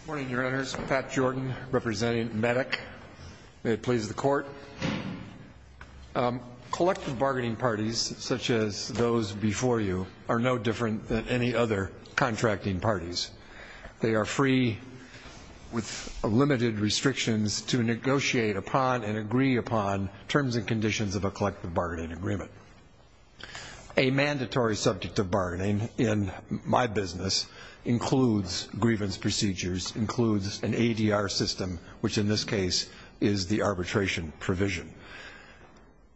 Good morning, Your Honors. Pat Jordan, representing MEDIC. May it please the Court. Collective bargaining parties, such as those before you, are no different than any other contracting parties. They are free, with limited restrictions, to negotiate upon and agree upon terms and conditions of a collective bargaining agreement. A mandatory subject of bargaining in my business includes grievance procedures, includes an ADR system, which in this case is the arbitration provision.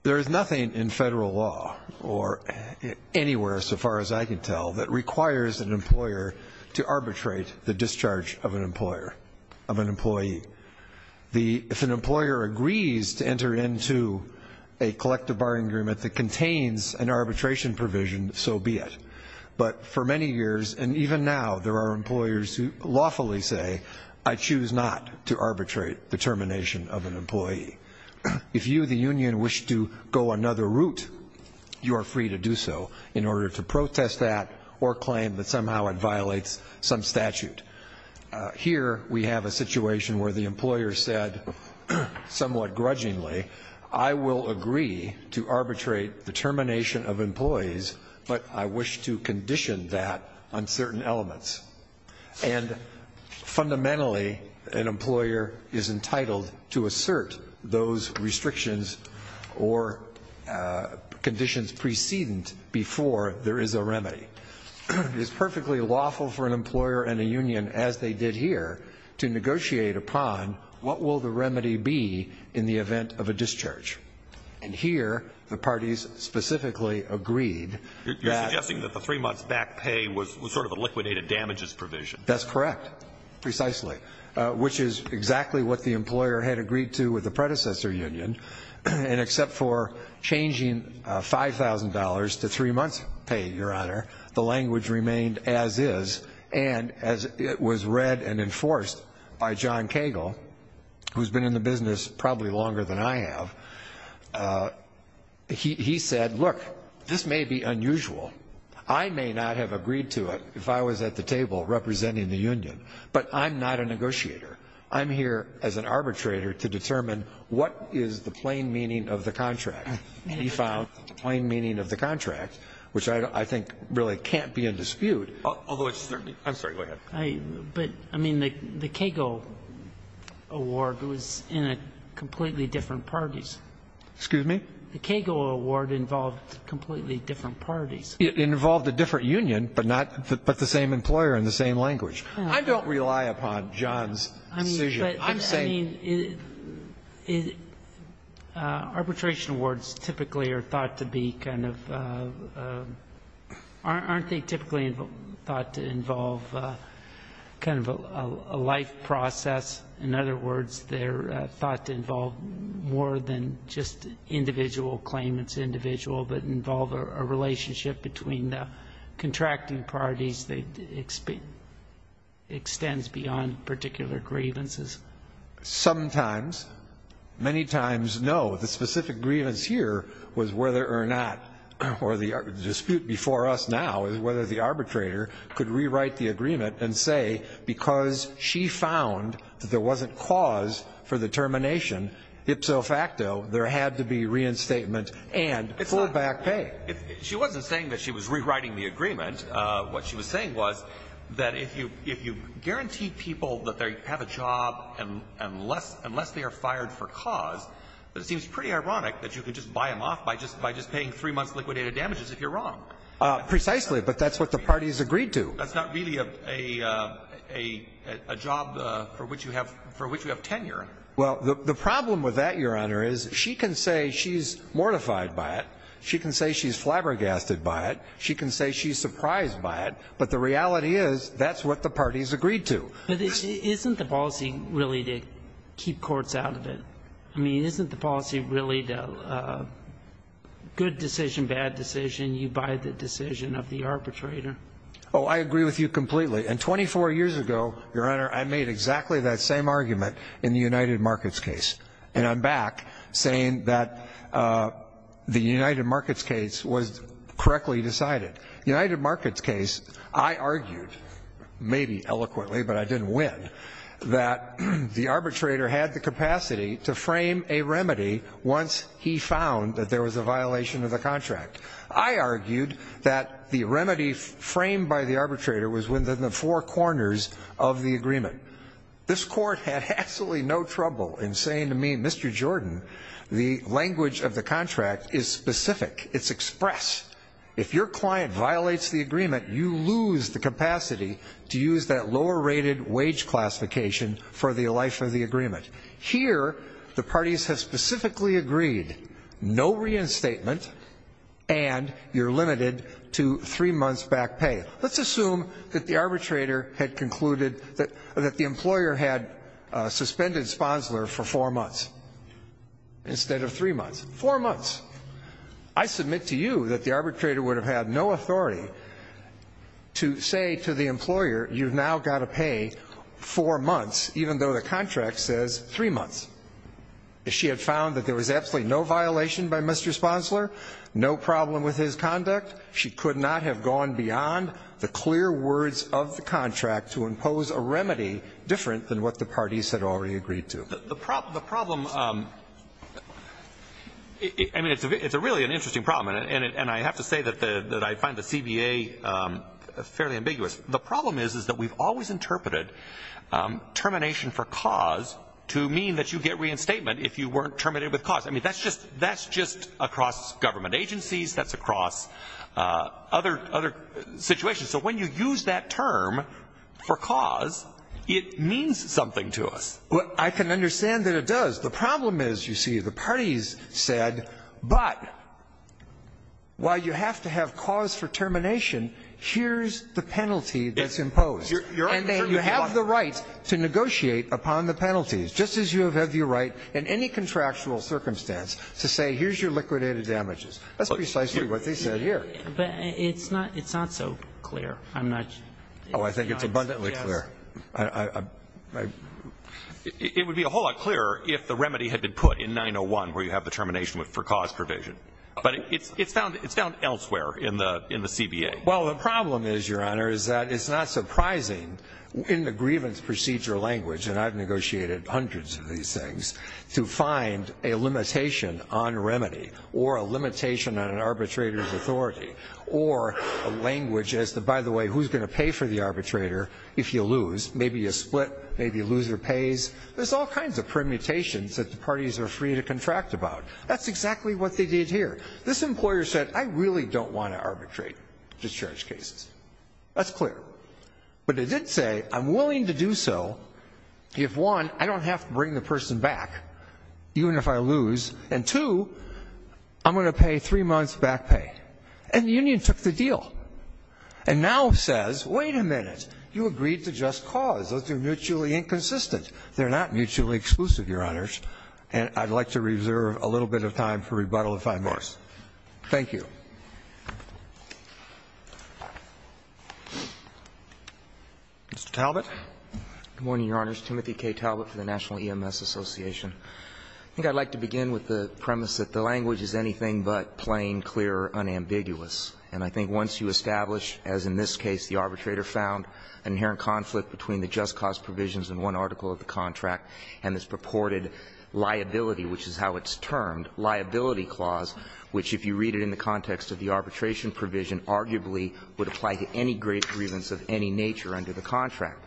There is nothing in federal law, or anywhere so far as I can tell, that requires an employer to arbitrate the discharge of an employer, of an employee. If an employer agrees to enter into a collective bargaining agreement that contains an arbitration provision, so be it. But for many years, and even now, there are employers who lawfully say, I choose not to arbitrate the termination of an employee. If you, the union, wish to go another route, you are free to do so, in order to protest that or claim that somehow it violates some statute. Here, we have a situation where the employer said, somewhat grudgingly, I will agree to arbitrate the termination of employees, but I wish to condition that on certain elements. And fundamentally, an employer is entitled to assert those restrictions or conditions precedent before there is a remedy. It is perfectly lawful for an employer and a union, as they did here, to negotiate upon what will the remedy be in the event of a discharge. And here, the parties specifically agreed that... You're suggesting that the three months back pay was sort of a liquidated damages provision. That's correct, precisely. Which is exactly what the employer had agreed to with the predecessor union. And except for changing $5,000 to three months' pay, Your Honor, the language remained as is. And as it was read and enforced by John Cagle, who's been in the business probably longer than I have, he said, look, this may be unusual. I may not have agreed to it if I was at the table representing the union, but I'm not a negotiator. I'm here as an arbitrator to determine what is the plain meaning of the contract. He found the plain meaning of the contract, which I think really can't be in dispute. Although it's certainly... I'm sorry, go ahead. But, I mean, the Cagle award was in a completely different parties. Excuse me? The Cagle award involved completely different parties. It involved a different union, but not the same employer and the same language. I don't rely upon John's decision. I'm saying... I mean, arbitration awards typically are thought to be kind of, aren't they typically thought to involve kind of a life process? In other words, they're thought to involve more than just individual claimants, but involve a relationship between the contracting parties that extends beyond particular grievances. Sometimes. Many times, no. The specific grievance here was whether or not, or the dispute before us now is whether the arbitrator could rewrite the agreement and say because she found that there wasn't cause for the termination, ipso facto, there had to be reinstatement and full back pay. She wasn't saying that she was rewriting the agreement. What she was saying was that if you guarantee people that they have a job unless they are fired for cause, it seems pretty ironic that you could just buy them off by just paying three months liquidated damages if you're wrong. Precisely, but that's what the parties agreed to. That's not really a job for which you have tenure. Well, the problem with that, Your Honor, is she can say she's mortified by it. She can say she's flabbergasted by it. She can say she's surprised by it. But the reality is that's what the parties agreed to. But isn't the policy really to keep courts out of it? I mean, isn't the policy really good decision, bad decision, you buy the decision of the arbitrator? Oh, I agree with you completely. And 24 years ago, Your Honor, I made exactly that same argument in the United Markets case. And I'm back saying that the United Markets case was correctly decided. United Markets case, I argued, maybe eloquently, but I didn't win, that the arbitrator had the capacity to frame a remedy once he found that there was a violation of the contract. I argued that the remedy framed by the arbitrator was within the four corners of the agreement. This court had absolutely no trouble in saying to me, Mr. Jordan, the language of the contract is specific. It's express. If your client violates the agreement, you lose the capacity to use that lower-rated wage classification for the life of the agreement. Here, the parties have specifically agreed, no reinstatement, and you're limited to three months back pay. Let's assume that the arbitrator had concluded that the employer had suspended Sponsler for four months instead of three months. Four months. I submit to you that the arbitrator would have had no authority to say to the employer, you've now got to pay four months, even though the contract says three months. If she had found that there was absolutely no violation by Mr. Sponsler, no problem with his conduct, she could not have gone beyond the clear words of the contract to impose a remedy different than what the parties had already agreed to. The problem, I mean, it's a really interesting problem, and I have to say that I find the CBA fairly ambiguous. The problem is, is that we've always interpreted termination for cause to mean that you get reinstatement if you weren't terminated with cause. I mean, that's just across government agencies. That's across other situations. So when you use that term for cause, it means something to us. Well, I can understand that it does. The problem is, you see, the parties said, but while you have to have cause for termination, here's the penalty that's imposed. And then you have the right to negotiate upon the penalties, just as you have had the right in any contractual circumstance to say here's your liquidated damages. That's precisely what they said here. But it's not so clear. I'm not sure. Oh, I think it's abundantly clear. It would be a whole lot clearer if the remedy had been put in 901 where you have the termination for cause provision. But it's found elsewhere in the CBA. Well, the problem is, Your Honor, is that it's not surprising in the grievance procedure language, and I've negotiated hundreds of these things, to find a limitation on remedy or a limitation on an arbitrator's authority or a language as to, by the way, who's going to pay for the arbitrator if you lose. Maybe you split. Maybe the loser pays. There's all kinds of permutations that the parties are free to contract about. That's exactly what they did here. This employer said, I really don't want to arbitrate discharge cases. That's clear. But it did say, I'm willing to do so if, one, I don't have to bring the person back even if I lose, and, two, I'm going to pay three months back pay. And the union took the deal and now says, wait a minute. You agreed to just cause. Those are mutually inconsistent. They're not mutually exclusive, Your Honors. And I'd like to reserve a little bit of time for rebuttal, if I may. Thank you. Mr. Talbot. Good morning, Your Honors. Timothy K. Talbot for the National EMS Association. I think I'd like to begin with the premise that the language is anything but plain, clear, unambiguous. And I think once you establish, as in this case, the arbitrator found inherent conflict between the just cause provisions in one article of the contract and its purported liability, which is how it's termed, liability clause, which, if you read it in the context of the arbitration provision, arguably would apply to any great grievance of any nature under the contract.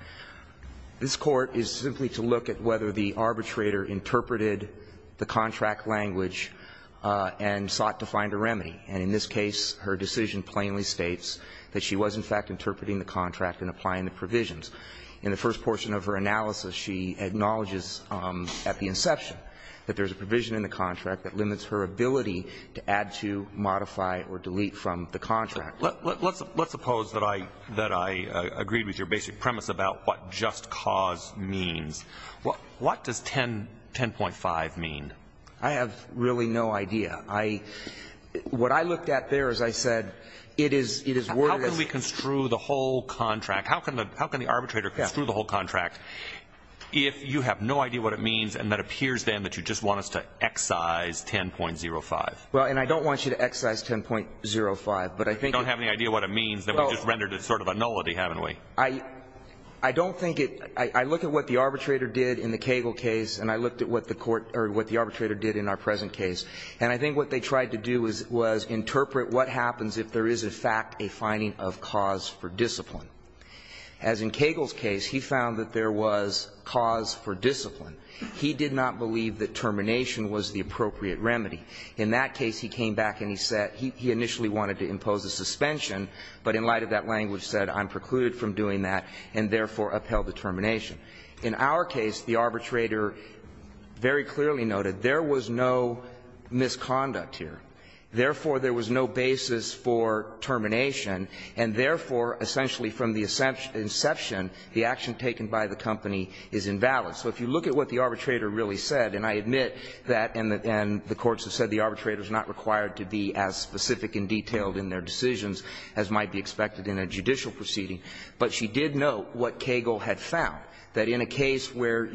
This Court is simply to look at whether the arbitrator interpreted the contract language and sought to find a remedy. And in this case, her decision plainly states that she was, in fact, interpreting the contract and applying the provisions. In the first portion of her analysis, she acknowledges at the inception that there is a provision in the contract that limits her ability to add to, modify or delete from the contract. Let's suppose that I agreed with your basic premise about what just cause means. What does 10.5 mean? I have really no idea. What I looked at there, as I said, it is worded as How can we construe the whole contract? How can the arbitrator construe the whole contract if you have no idea what it means and it appears then that you just want us to excise 10.05? Well, and I don't want you to excise 10.05, but I think You don't have any idea what it means, then we just rendered it sort of a nullity, haven't we? I don't think it – I look at what the arbitrator did in the Cagle case and I looked at what the court – or what the arbitrator did in our present case. And I think what they tried to do was interpret what happens if there is, in fact, a finding of cause for discipline. As in Cagle's case, he found that there was cause for discipline. He did not believe that termination was the appropriate remedy. In that case, he came back and he said – he initially wanted to impose a suspension, but in light of that language said I'm precluded from doing that and therefore upheld the termination. In our case, the arbitrator very clearly noted there was no misconduct here. Therefore, there was no basis for termination, and therefore, essentially from the inception, the action taken by the company is invalid. So if you look at what the arbitrator really said, and I admit that – and the courts have said the arbitrator is not required to be as specific and detailed in their decisions as might be expected in a judicial proceeding. But she did note what Cagle had found, that in a case where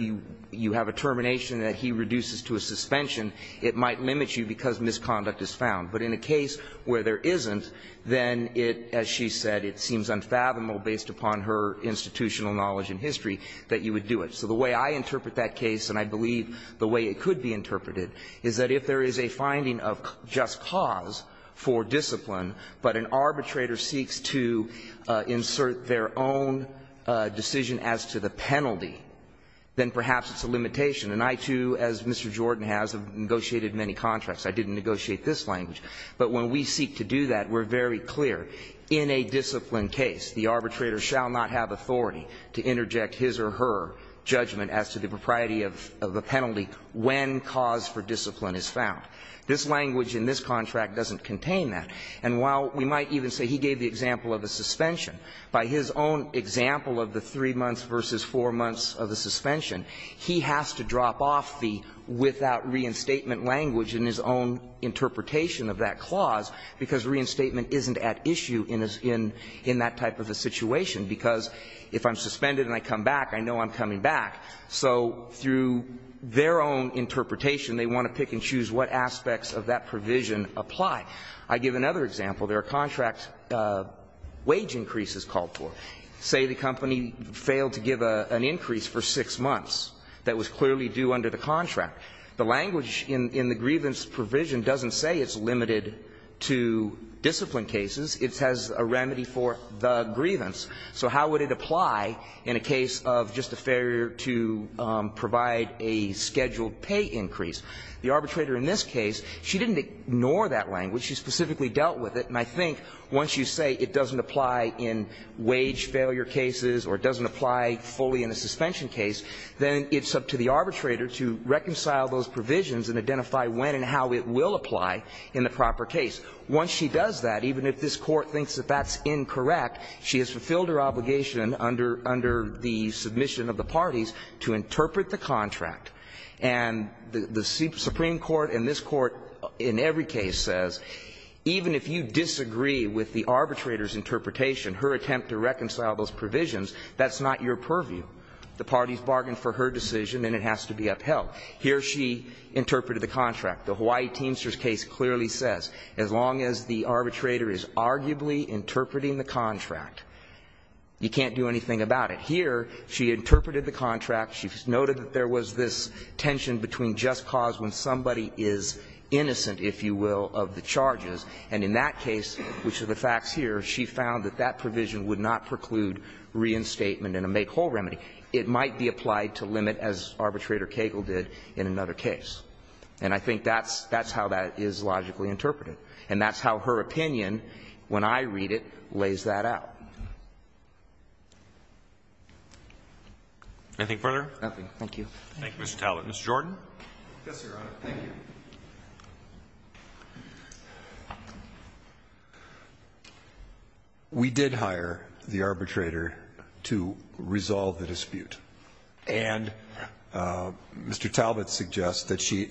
you have a termination that he reduces to a suspension, it might limit you because misconduct is found. But in a case where there isn't, then it, as she said, it seems unfathomable based upon her institutional knowledge and history that you would do it. So the way I interpret that case, and I believe the way it could be interpreted, is that if there is a finding of just cause for discipline, but an arbitrator seeks to insert their own decision as to the penalty, then perhaps it's a limitation. And I, too, as Mr. Jordan has, have negotiated many contracts. I didn't negotiate this language. But when we seek to do that, we're very clear. In a discipline case, the arbitrator shall not have authority to interject his or her judgment as to the propriety of a penalty when cause for discipline is found. This language in this contract doesn't contain that. And while we might even say he gave the example of a suspension, by his own example of the 3 months versus 4 months of the suspension, he has to drop off the without reinstatement language in his own interpretation of that clause, because reinstatement isn't at issue in that type of a situation, because if I'm suspended and I come back, I know I'm coming back. So through their own interpretation, they want to pick and choose what aspects of that provision apply. I give another example. There are contract wage increases called for. Say the company failed to give an increase for 6 months that was clearly due under the contract. The language in the grievance provision doesn't say it's limited to discipline cases. It has a remedy for the grievance. So how would it apply in a case of just a failure to provide a scheduled pay increase? The arbitrator in this case, she didn't ignore that language. She specifically dealt with it. And I think once you say it doesn't apply in wage failure cases or it doesn't apply fully in a suspension case, then it's up to the arbitrator to reconcile those provisions and identify when and how it will apply in the proper case. Once she does that, even if this Court thinks that that's incorrect, she has fulfilled her obligation under the submission of the parties to interpret the contract. And the Supreme Court and this Court in every case says even if you disagree with the arbitrator's interpretation, her attempt to reconcile those provisions, that's not your purview. The parties bargained for her decision and it has to be upheld. Here she interpreted the contract. The Hawaii Teamsters case clearly says as long as the arbitrator is arguably interpreting the contract, you can't do anything about it. Here she interpreted the contract. She noted that there was this tension between just cause when somebody is innocent, if you will, of the charges. And in that case, which are the facts here, she found that that provision would not preclude reinstatement and a make-whole remedy. It might be applied to limit, as Arbitrator Cagle did in another case. And I think that's how that is logically interpreted. And that's how her opinion, when I read it, lays that out. Roberts. Anything further? Nothing. Thank you. Thank you, Mr. Talbot. Mr. Jordan. Yes, Your Honor. Thank you. We did hire the arbitrator to resolve the dispute. And Mr. Talbot suggests that she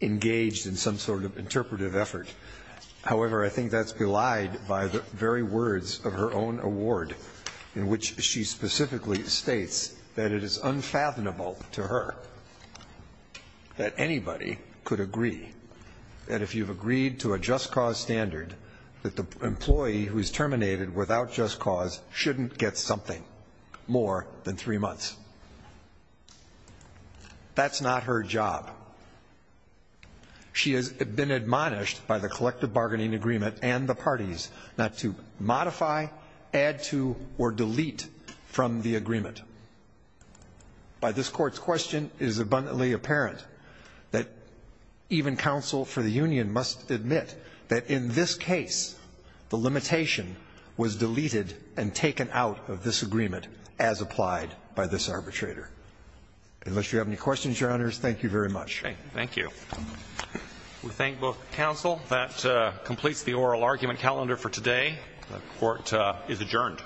engaged in some sort of interpretive effort. However, I think that's belied by the very words of her own award, in which she specifically states that it is unfathomable to her that anybody could agree that if you've agreed to a just cause standard, that the employee who is terminated without just cause shouldn't get something more than three months. That's not her job. She has been admonished by the collective bargaining agreement and the parties not to modify, add to, or delete from the agreement. By this Court's question, it is abundantly apparent that even counsel for the union must admit that in this case, the limitation was deleted and taken out of this agreement as applied by this arbitrator. Unless you have any questions, Your Honors, thank you very much. Thank you. We thank both counsel. That completes the oral argument calendar for today. The Court is adjourned.